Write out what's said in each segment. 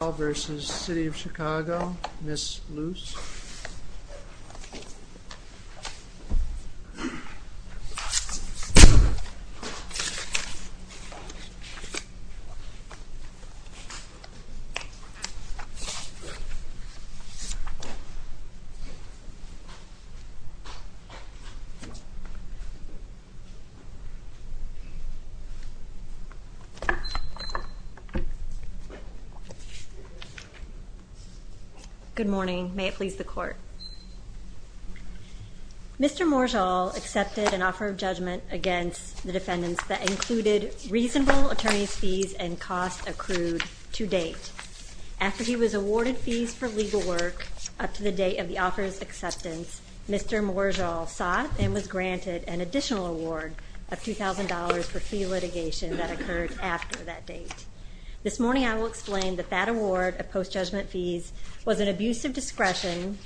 Morjal v. City of Chicago, Ms. Luce. Good morning. May it please the Court. Mr. Morjal accepted an offer of judgment against the defendants that included reasonable attorney's fees and costs accrued to date. After he was awarded fees for legal work up to the date of the offer's acceptance, Mr. Morjal sought and was granted an additional award of $2,000 for fee litigation that occurred after that date. This morning I will explain that that award of post-judgment fees was an abuse of discretion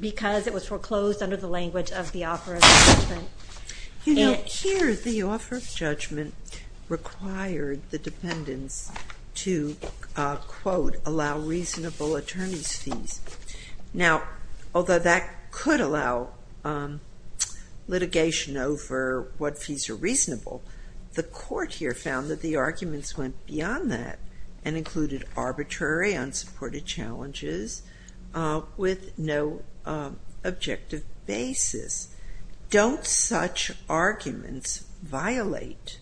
because it was foreclosed under the language of the offer of judgment. You know, here the offer of judgment required the defendants to, quote, allow reasonable attorney's fees. Now, although that could allow litigation over what fees are reasonable, the Court here found that the arguments went beyond that and included arbitrary, unsupported challenges with no objective basis. Don't such arguments violate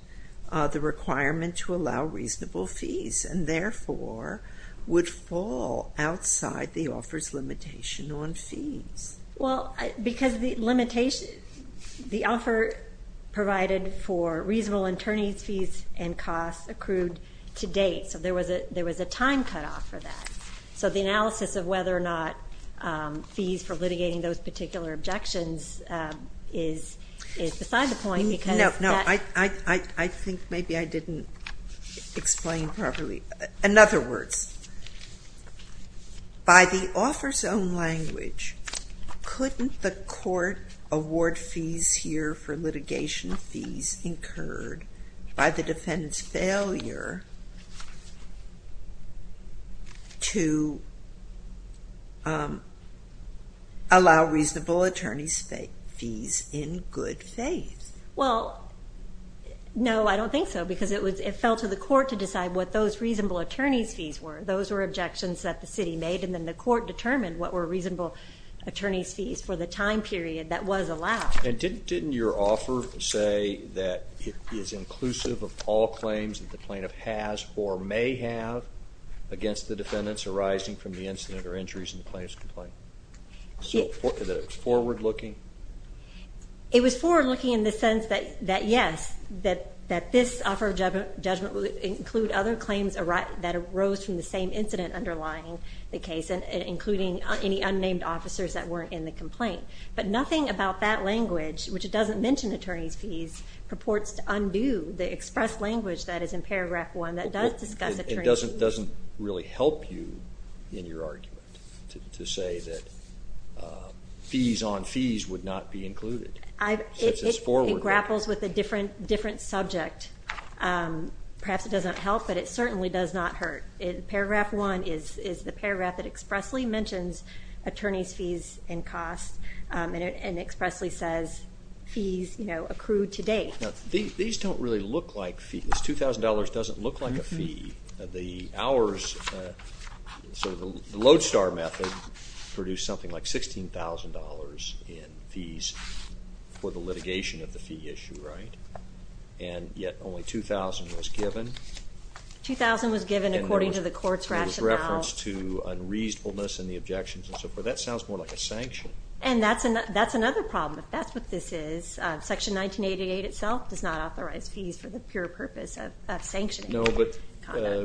the requirement to allow reasonable fees and therefore would fall outside the offer's limitation on fees? Well, because the offer provided for reasonable attorney's fees and costs accrued to date, so there was a time cutoff for that. So the analysis of whether or not fees for litigating those particular objections is beside the point because— No, I think maybe I didn't explain properly. In other words, by the offer's own language, couldn't the Court award fees here for litigation fees incurred by the defendant's failure to allow reasonable attorney's fees in good faith? Well, no, I don't think so because it fell to the Court to decide what those reasonable attorney's fees were. Those were objections that the City made and then the Court determined what were reasonable attorney's fees for the time period that was allowed. And didn't your offer say that it is inclusive of all claims that the plaintiff has or may have against the defendants arising from the incident or injuries in the plaintiff's complaint? Was it forward-looking? It was forward-looking in the sense that yes, that this offer of judgment would include other claims that arose from the same incident underlying the case, including any unnamed officers that weren't in the complaint. But nothing about that language, which doesn't mention attorney's fees, purports to undo the express language that is in paragraph 1 that does discuss attorney's fees. It doesn't really help you in your argument to say that fees on fees would not be included. It grapples with a different subject. Perhaps it doesn't help, but it certainly does not hurt. Paragraph 1 is the paragraph that expressly mentions attorney's fees and costs and expressly says fees accrued to date. These don't really look like fees. $2,000 doesn't look like a fee. The Lodestar method produced something like $16,000 in fees for the litigation of the fee issue, right? And yet only $2,000 was given. $2,000 was given according to the Court's rationale. It was referenced to unreasonableness in the objections and so forth. That sounds more like a sanction. And that's another problem. That's what this is. Section 1988 itself does not authorize fees for the pure purpose of sanctioning. No, but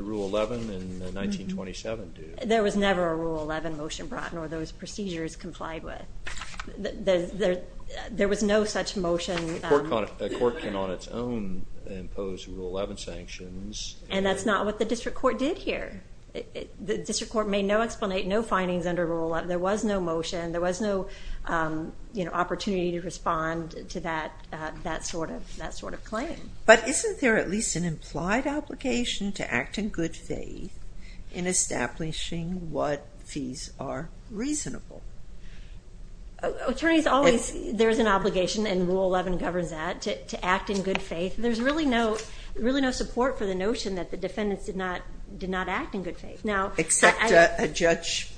Rule 11 and 1927 do. There was never a Rule 11 motion brought in or those procedures complied with. There was no such motion. A court can on its own impose Rule 11 sanctions. And that's not what the district court did here. The district court made no explanation, no findings under Rule 11. There was no motion. There was no opportunity to respond to that sort of claim. But isn't there at least an implied obligation to act in good faith in establishing what fees are reasonable? There is an obligation, and Rule 11 governs that, to act in good faith. There's really no support for the notion that the defendants did not act in good faith. Except a judge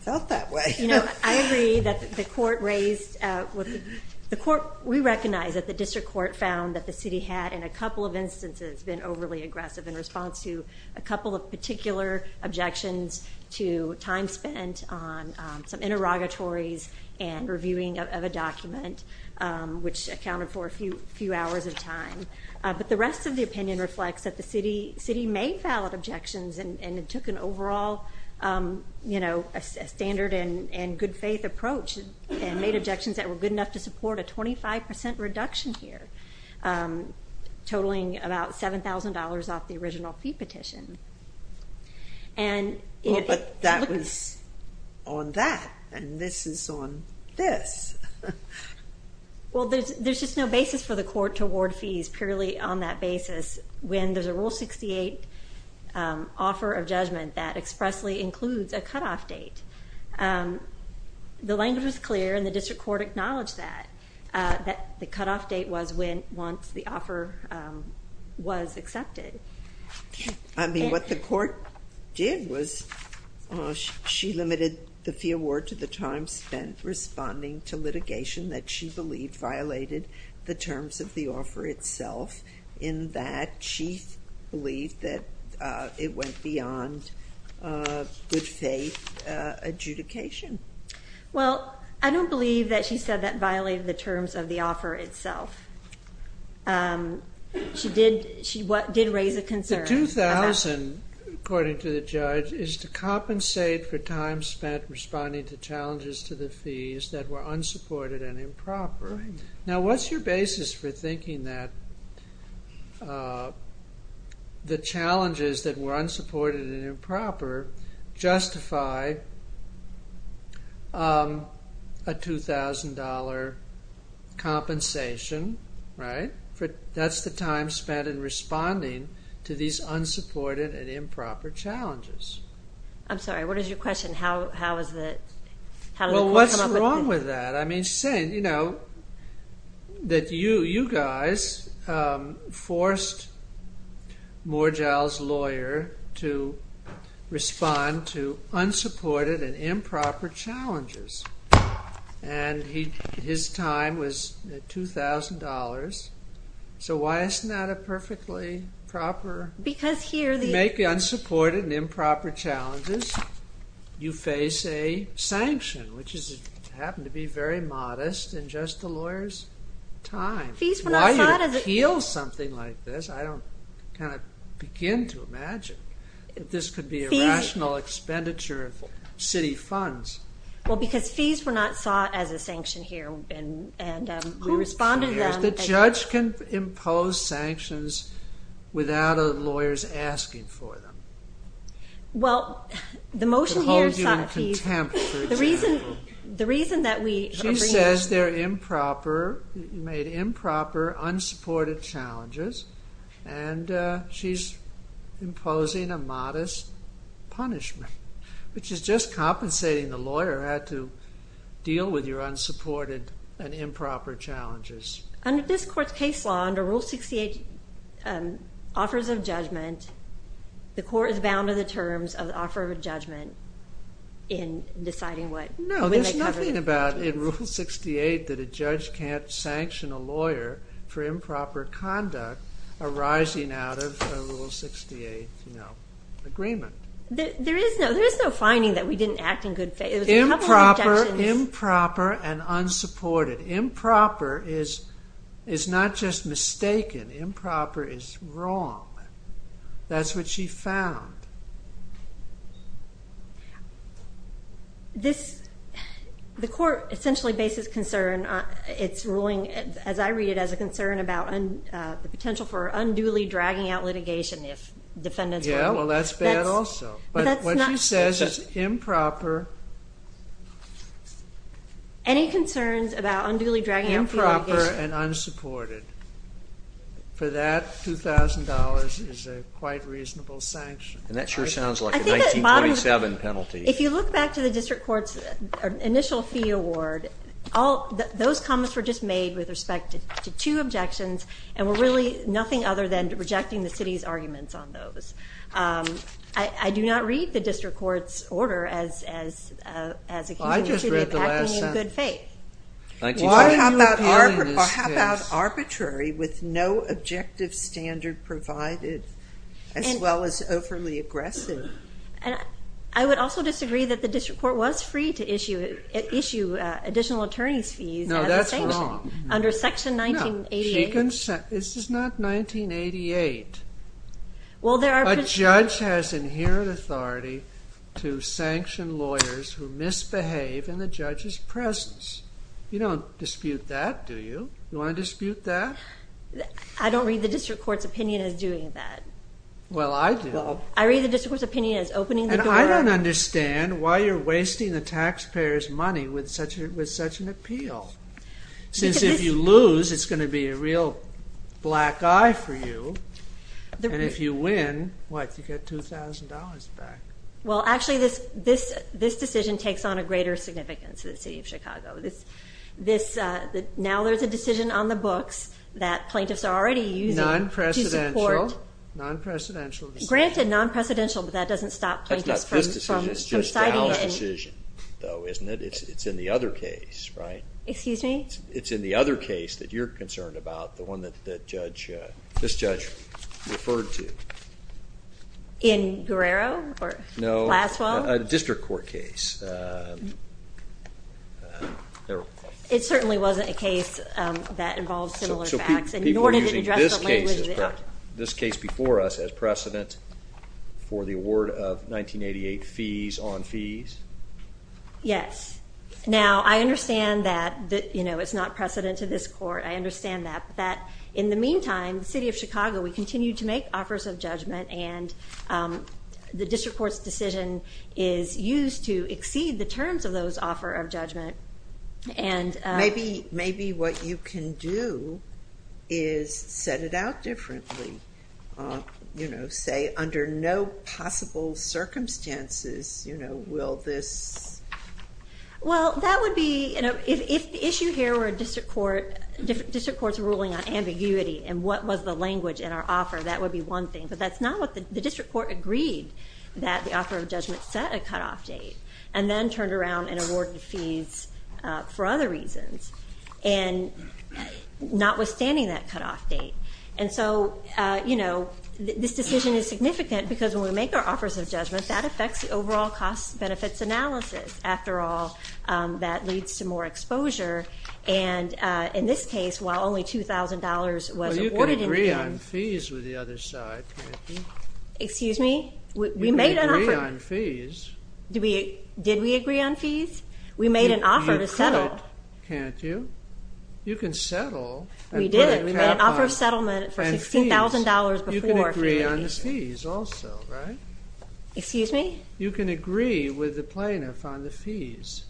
felt that way. I agree that the court raised the court. We recognize that the district court found that the city had, in a couple of instances, been overly aggressive in response to a couple of particular objections to time spent on some interrogatories and reviewing of a document, which accounted for a few hours of time. But the rest of the opinion reflects that the city made valid objections and took an overall standard and good faith approach and made objections that were good enough to support a 25% reduction here, totaling about $7,000 off the original fee petition. But that was on that, and this is on this. Well, there's just no basis for the court to award fees purely on that basis when there's a Rule 68 offer of judgment that expressly includes a cutoff date. The language was clear, and the district court acknowledged that. The cutoff date was once the offer was accepted. I mean, what the court did was she limited the fee award to the time spent responding to litigation that she believed violated the terms of the offer itself, in that she believed that it went beyond good faith adjudication. Well, I don't believe that she said that violated the terms of the offer itself. She did raise a concern. The $2,000, according to the judge, is to compensate for time spent responding to challenges to the fees that were unsupported and improper. Now, what's your basis for thinking that the challenges that were unsupported and improper justify a $2,000 compensation? Right? That's the time spent in responding to these unsupported and improper challenges. I'm sorry, what is your question? Well, what's wrong with that? I mean, saying, you know, that you guys forced Moorjahl's lawyer to respond to unsupported and improper challenges, and his time was $2,000. So why isn't that a perfectly proper... Because here the... To make unsupported and improper challenges, you face a sanction, which happened to be very modest in just the lawyer's time. Why would you appeal something like this? I don't kind of begin to imagine that this could be a rational expenditure of city funds. Well, because fees were not sought as a sanction here, and we responded to them... The judge can impose sanctions without a lawyer's asking for them. Well, the motion here sought a fee... She says they're improper, made improper, unsupported challenges, and she's imposing a modest punishment, which is just compensating the lawyer who had to deal with your unsupported and improper challenges. Under this court's case law, under Rule 68, offers of judgment, the court is bound to the terms of the offer of judgment in deciding what... No, there's nothing about in Rule 68 that a judge can't sanction a lawyer for improper conduct arising out of a Rule 68 agreement. There is no finding that we didn't act in good faith. Improper and unsupported. Improper is not just mistaken. Improper is wrong. That's what she found. The court essentially bases concern, it's ruling, as I read it, as a concern about the potential for unduly dragging out litigation if defendants... Yeah, well, that's bad also. But what she says is improper... Any concerns about unduly dragging out litigation... For that, $2,000 is a quite reasonable sanction. And that sure sounds like a 1927 penalty. If you look back to the district court's initial fee award, those comments were just made with respect to two objections and were really nothing other than rejecting the city's arguments on those. I do not read the district court's order as a case... Well, I just read the last sentence. How about arbitrary with no objective standard provided as well as overly aggressive? I would also disagree that the district court was free to issue additional attorney's fees... No, that's wrong. ...under Section 1988. This is not 1988. A judge has inherent authority to sanction lawyers who misbehave in the judge's presence. You don't dispute that, do you? You want to dispute that? I don't read the district court's opinion as doing that. Well, I do. I read the district court's opinion as opening the door... And I don't understand why you're wasting the taxpayers' money with such an appeal. Since if you lose, it's going to be a real black eye for you. And if you win, what, you get $2,000 back. Well, actually, this decision takes on a greater significance to the city of Chicago. Now there's a decision on the books that plaintiffs are already using to support... Non-precedential. Non-precedential decision. Granted, non-precedential, but that doesn't stop plaintiffs from citing... That's not this decision. It's just our decision, though, isn't it? It's in the other case, right? Excuse me? It's in the other case that you're concerned about, the one that this judge referred to. In Guerrero or Glasswell? No, a district court case. It certainly wasn't a case that involved similar facts. So people are using this case before us as precedent for the award of 1988 fees on fees? Yes. Now, I understand that it's not precedent to this court. I understand that. In the meantime, the city of Chicago, we continue to make offers of judgment, and the district court's decision is used to exceed the terms of those offer of judgment. Maybe what you can do is set it out differently. Say, under no possible circumstances will this... Well, that would be... If the issue here were a district court's ruling on ambiguity and what was the language in our offer, that would be one thing. But that's not what the district court agreed that the offer of judgment set a cutoff date and then turned around and awarded fees for other reasons, notwithstanding that cutoff date. And so this decision is significant because when we make our offers of judgment, that affects the overall cost-benefits analysis. After all, that leads to more exposure. And in this case, while only $2,000 was awarded in the end... Well, you can agree on fees with the other side, can't you? Excuse me? You can agree on fees. Did we agree on fees? We made an offer to settle. You could, can't you? You can settle. We did. We made an offer of settlement for $16,000 before. You can agree on the fees also, right? Excuse me? You can agree with the plaintiff on the fees.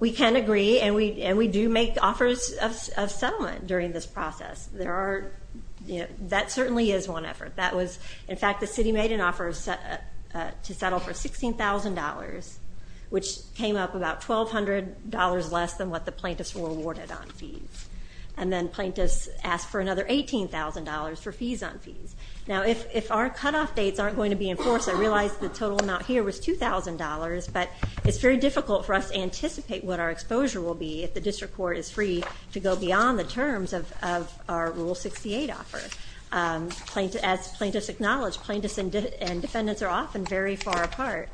We can agree, and we do make offers of settlement during this process. That certainly is one effort. In fact, the city made an offer to settle for $16,000, which came up about $1,200 less than what the plaintiffs were awarded on fees. And then plaintiffs asked for another $18,000 for fees on fees. Now, if our cutoff dates aren't going to be enforced, I realize the total amount here was $2,000, but it's very difficult for us to anticipate what our exposure will be if the district court is free to go beyond the terms of our Rule 68 offer. As plaintiffs acknowledge, plaintiffs and defendants are often very far apart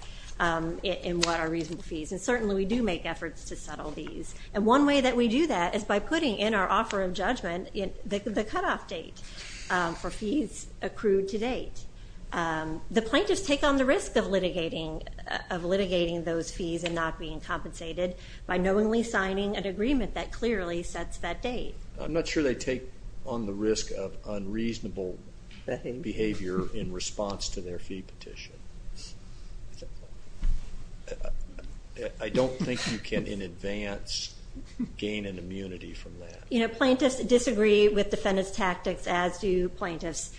in what are reasonable fees, and certainly we do make efforts to settle these. The cutoff date for fees accrued to date. The plaintiffs take on the risk of litigating those fees and not being compensated by knowingly signing an agreement that clearly sets that date. I'm not sure they take on the risk of unreasonable behavior in response to their fee petition. I don't think you can, in advance, gain an immunity from that. Plaintiffs disagree with defendant's tactics, as do plaintiffs.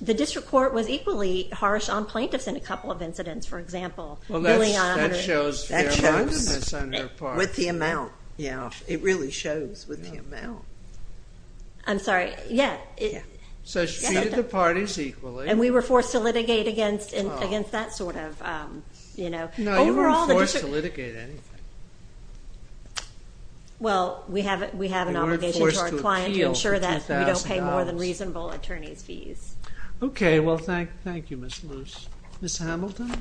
The district court was equally harsh on plaintiffs in a couple of incidents, for example. Well, that shows fair-mindedness on her part. With the amount, yeah. It really shows with the amount. I'm sorry. Yeah. So she treated the parties equally. And we were forced to litigate against that sort of... No, you weren't forced to litigate anything. Well, we have an obligation to our client to ensure that we don't pay more than reasonable attorneys' fees. Okay, well, thank you, Ms. Luce. Ms. Hamilton?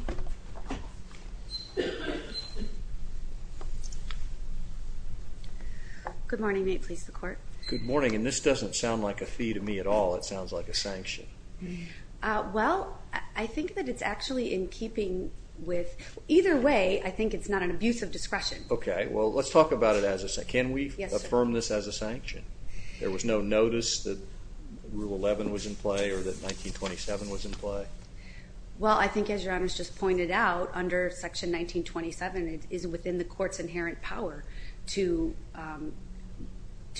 Good morning. May it please the Court? Good morning. And this doesn't sound like a fee to me at all. It sounds like a sanction. Well, I think that it's actually in keeping with... Okay, well, let's talk about it as a... Can we affirm this as a sanction? There was no notice that Rule 11 was in play or that 1927 was in play? Well, I think, as Your Honours just pointed out, under Section 1927, it is within the Court's inherent power to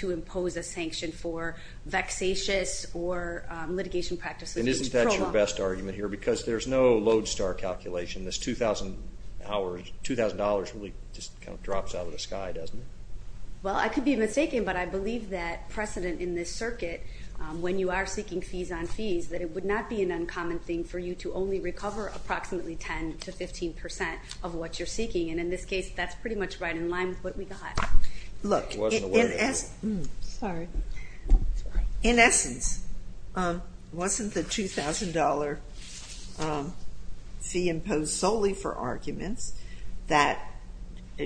impose a sanction for vexatious or litigation practices... And isn't that your best argument here? Because there's no lodestar calculation. This $2,000 really just kind of drops out of the sky, doesn't it? Well, I could be mistaken, but I believe that precedent in this circuit, when you are seeking fees on fees, that it would not be an uncommon thing for you to only recover approximately 10% to 15% of what you're seeking. And in this case, that's pretty much right in line with what we got. Look, in essence... Sorry. ...it was solely for arguments that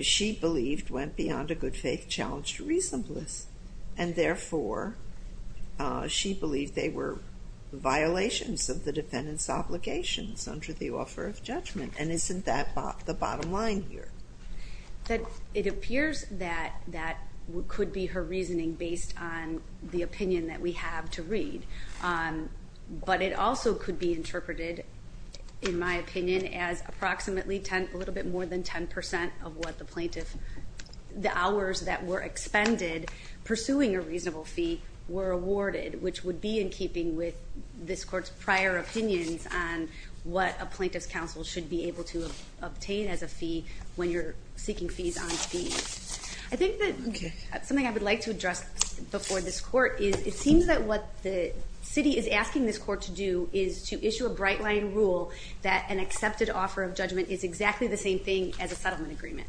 she believed went beyond a good-faith challenge to reasonableness. And therefore, she believed they were violations of the defendant's obligations under the offer of judgment. And isn't that the bottom line here? It appears that that could be her reasoning based on the opinion that we have to read. But it also could be interpreted, in my opinion, as approximately a little bit more than 10% of what the plaintiff... the hours that were expended pursuing a reasonable fee were awarded, which would be in keeping with this court's prior opinions on what a plaintiff's counsel should be able to obtain as a fee when you're seeking fees on fees. I think that something I would like to address before this court is it seems that what the city is asking this court to do is to issue a bright-line rule that an accepted offer of judgment is exactly the same thing as a settlement agreement.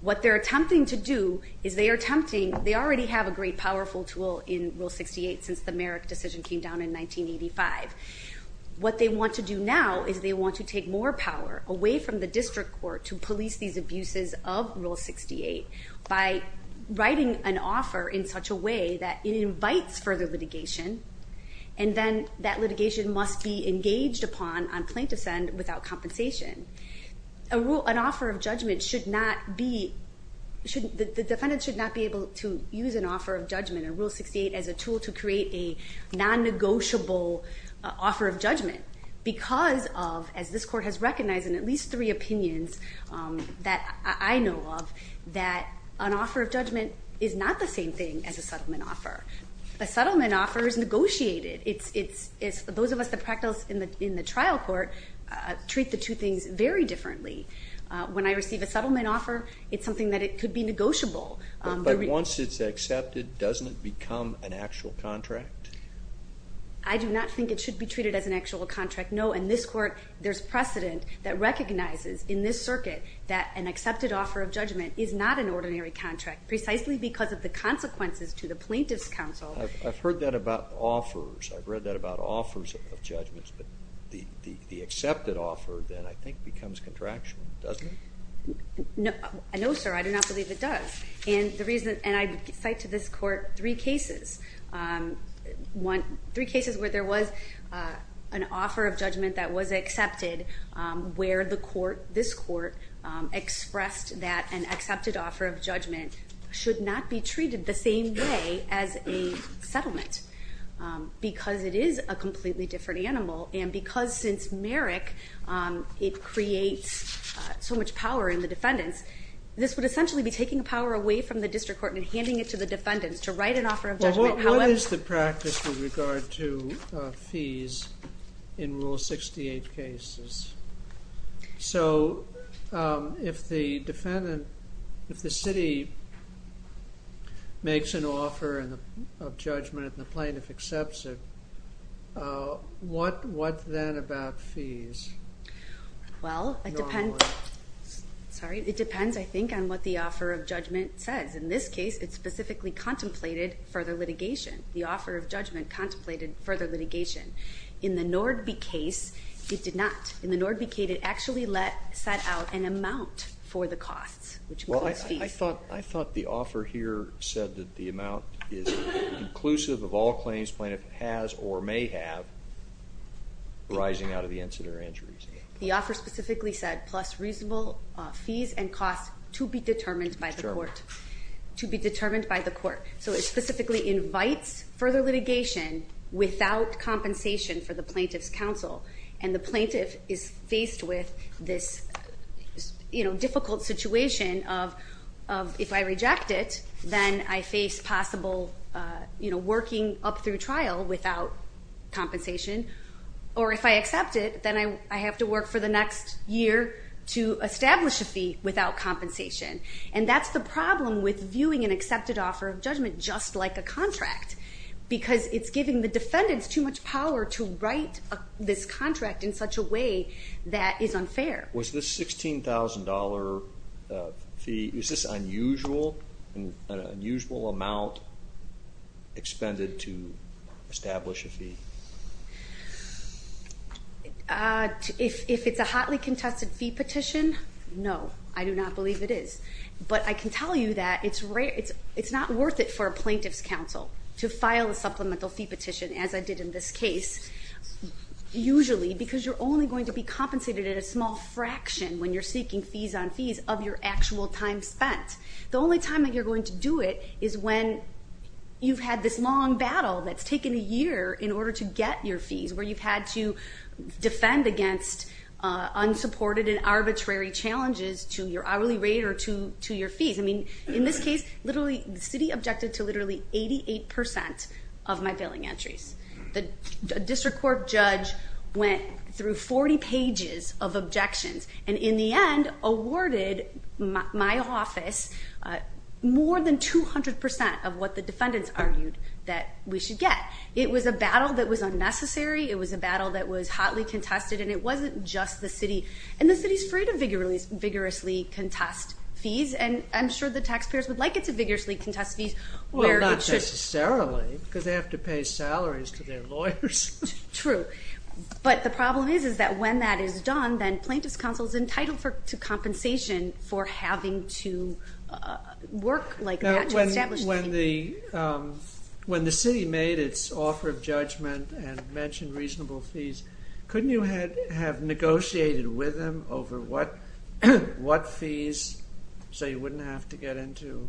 What they're attempting to do is they are attempting... They already have a great powerful tool in Rule 68 since the Merrick decision came down in 1985. What they want to do now is they want to take more power away from the district court to police these abuses of Rule 68 by writing an offer in such a way that it invites further litigation, and then that litigation must be engaged upon on plaintiff's end without compensation. An offer of judgment should not be... The defendant should not be able to use an offer of judgment in Rule 68 as a tool to create a non-negotiable offer of judgment because of, as this court has recognized in at least three opinions that I know of, that an offer of judgment is not the same thing as a settlement offer. A settlement offer is negotiated. Those of us that practice in the trial court treat the two things very differently. When I receive a settlement offer, it's something that could be negotiable. But once it's accepted, doesn't it become an actual contract? I do not think it should be treated as an actual contract, no. In this court, there's precedent that recognizes in this circuit that an accepted offer of judgment is not an ordinary contract precisely because of the consequences to the plaintiff's counsel. I've heard that about offers. I've read that about offers of judgments. But the accepted offer, then, I think becomes contractual, doesn't it? No, sir. I do not believe it does. And I cite to this court three cases. Three cases where there was an offer of judgment that was accepted where this court expressed that an accepted offer of judgment should not be treated the same way as a settlement because it is a completely different animal and because, since Merrick, it creates so much power in the defendants, this would essentially be taking power away from the district court and handing it to the defendants to write an offer of judgment. What is the practice with regard to fees in Rule 68 cases? So if the defendant, if the city makes an offer of judgment and the plaintiff accepts it, what then about fees? Well, it depends, I think, on what the offer of judgment says. In this case, it specifically contemplated further litigation. The offer of judgment contemplated further litigation. In the Nordby case, it did not. In the Nordby case, it actually set out an amount for the costs, which includes fees. I thought the offer here said that the amount is inclusive of all claims the plaintiff has or may have arising out of the incident or injuries. The offer specifically said, plus reasonable fees and costs to be determined by the court. So it specifically invites further litigation without compensation for the plaintiff's counsel. And the plaintiff is faced with this difficult situation of if I reject it, then I face possible working up through trial without compensation. Or if I accept it, then I have to work for the next year to establish a fee without compensation. And that's the problem with viewing an accepted offer of judgment just like a contract, because it's giving the defendants too much power to write this contract in such a way that is unfair. Was this $16,000 fee, is this an unusual amount expended to establish a fee? If it's a hotly contested fee petition, no, I do not believe it is. But I can tell you that it's not worth it for a plaintiff's counsel to file a supplemental fee petition, as I did in this case, usually because you're only going to be compensated in a small fraction when you're seeking fees on fees of your actual time spent. The only time that you're going to do it is when you've had this long battle that's taken a year in order to get your fees, where you've had to defend against unsupported and arbitrary challenges to your hourly rate or to your fees. In this case, the city objected to literally 88% of my billing entries. The district court judge went through 40 pages of objections and in the end awarded my office more than 200% of what the defendants argued that we should get. It was a battle that was unnecessary, it was a battle that was hotly contested, and it wasn't just the city. And the city's free to vigorously contest fees, and I'm sure the taxpayers would like it to vigorously contest fees. Well, not necessarily, because they have to pay salaries to their lawyers. True. But the problem is that when that is done, then plaintiff's counsel is entitled to compensation for having to work like that to establish the fee. When the city made its offer of judgment and mentioned reasonable fees, couldn't you have negotiated with them over what fees so you wouldn't have to get into...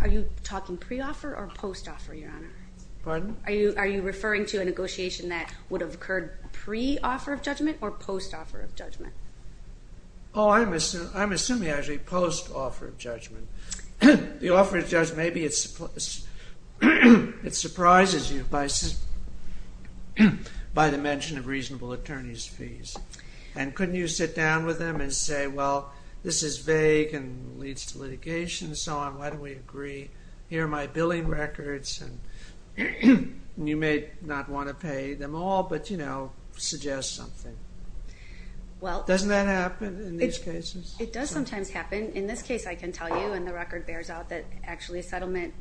Are you talking pre-offer or post-offer, Your Honor? Pardon? Are you referring to a negotiation that would have occurred pre-offer of judgment or post-offer of judgment? Oh, I'm assuming, actually, post-offer of judgment. The offer of judgment, maybe it surprises you by the mention of reasonable attorney's fees. And couldn't you sit down with them and say, well, this is vague and leads to litigation and so on, why don't we agree? Here are my billing records, and you may not want to pay them all, but, you know, suggest something. Doesn't that happen in these cases? It does sometimes happen. In this case, I can tell you, and the record bears out, that actually a settlement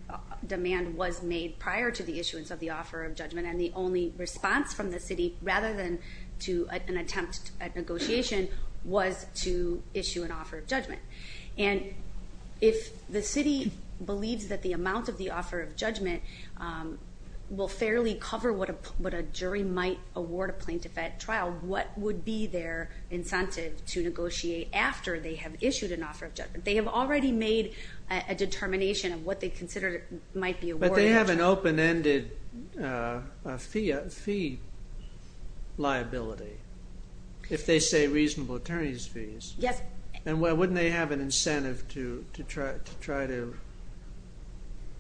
demand was made prior to the issuance of the offer of judgment, and the only response from the city, rather than an attempt at negotiation, was to issue an offer of judgment. And if the city believes that the amount of the offer of judgment will fairly cover what a jury might award a plaintiff at trial, what would be their incentive to negotiate after they have issued an offer of judgment? They have already made a determination of what they consider might be awarded at trial. But they have an open-ended fee liability, if they say reasonable attorney's fees. Yes. And wouldn't they have an incentive to try to,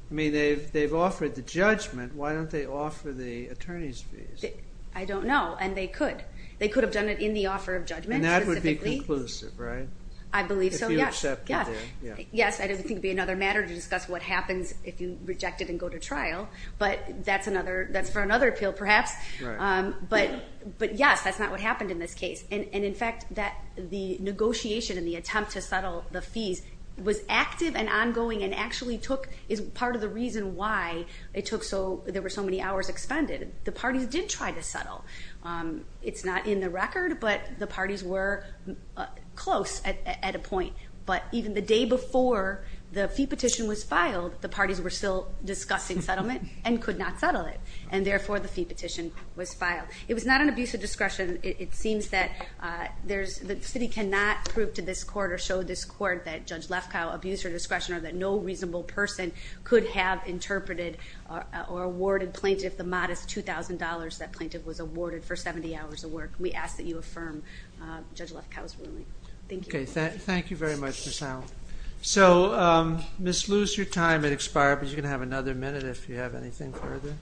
I mean, they've offered the judgment, why don't they offer the attorney's fees? I don't know, and they could. They could have done it in the offer of judgment, specifically. And that would be conclusive, right? I believe so, yes. If you accept the deal. Yes, I don't think it would be another matter to discuss what happens if you reject it and go to trial. But that's for another appeal, perhaps. But, yes, that's not what happened in this case. And, in fact, the negotiation and the attempt to settle the fees was active and ongoing and actually took, is part of the reason why there were so many hours expended. The parties did try to settle. It's not in the record, but the parties were close at a point. But even the day before the fee petition was filed, the parties were still discussing settlement and could not settle it. And, therefore, the fee petition was filed. It was not an abuse of discretion. It seems that the city cannot prove to this court or show this court that Judge Lefkow abused her discretion or that no reasonable person could have interpreted or awarded plaintiff the modest $2,000 that plaintiff was awarded for 70 hours of work. We ask that you affirm Judge Lefkow's ruling. Thank you. Okay. Thank you very much, Ms. Allen. So, Ms. Luce, your time has expired, but you're going to have another minute if you have anything further.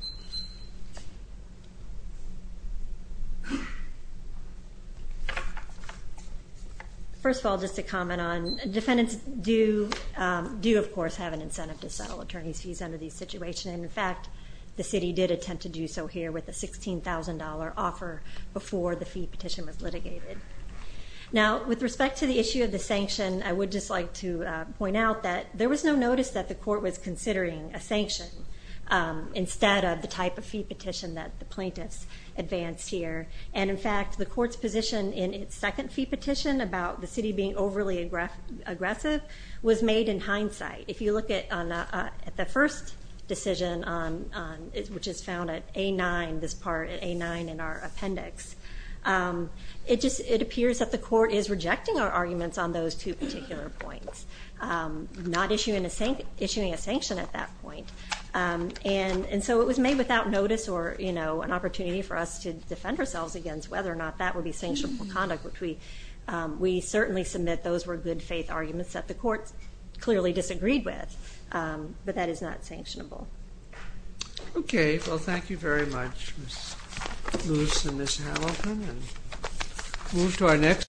First of all, just to comment on, defendants do, of course, have an incentive to settle attorneys' fees under these situations. And, in fact, the city did attempt to do so here with a $16,000 offer before the fee petition was litigated. Now, with respect to the issue of the sanction, I would just like to point out that there was no notice that the court was considering a sanction instead of the type of fee petition that the plaintiffs advanced here. And, in fact, the court's position in its second fee petition about the city being overly aggressive was made in hindsight. If you look at the first decision, which is found at A9, this part at A9 in our appendix, it appears that the court is rejecting our arguments on those two particular points, not issuing a sanction at that point. And so it was made without notice or, you know, an opportunity for us to defend ourselves against whether or not that would be sanctionable conduct, which we certainly submit those were good faith arguments that the court clearly disagreed with. But that is not sanctionable. Okay. Well, thank you very much, Ms. Moose and Ms. Hamilton. And move to our next...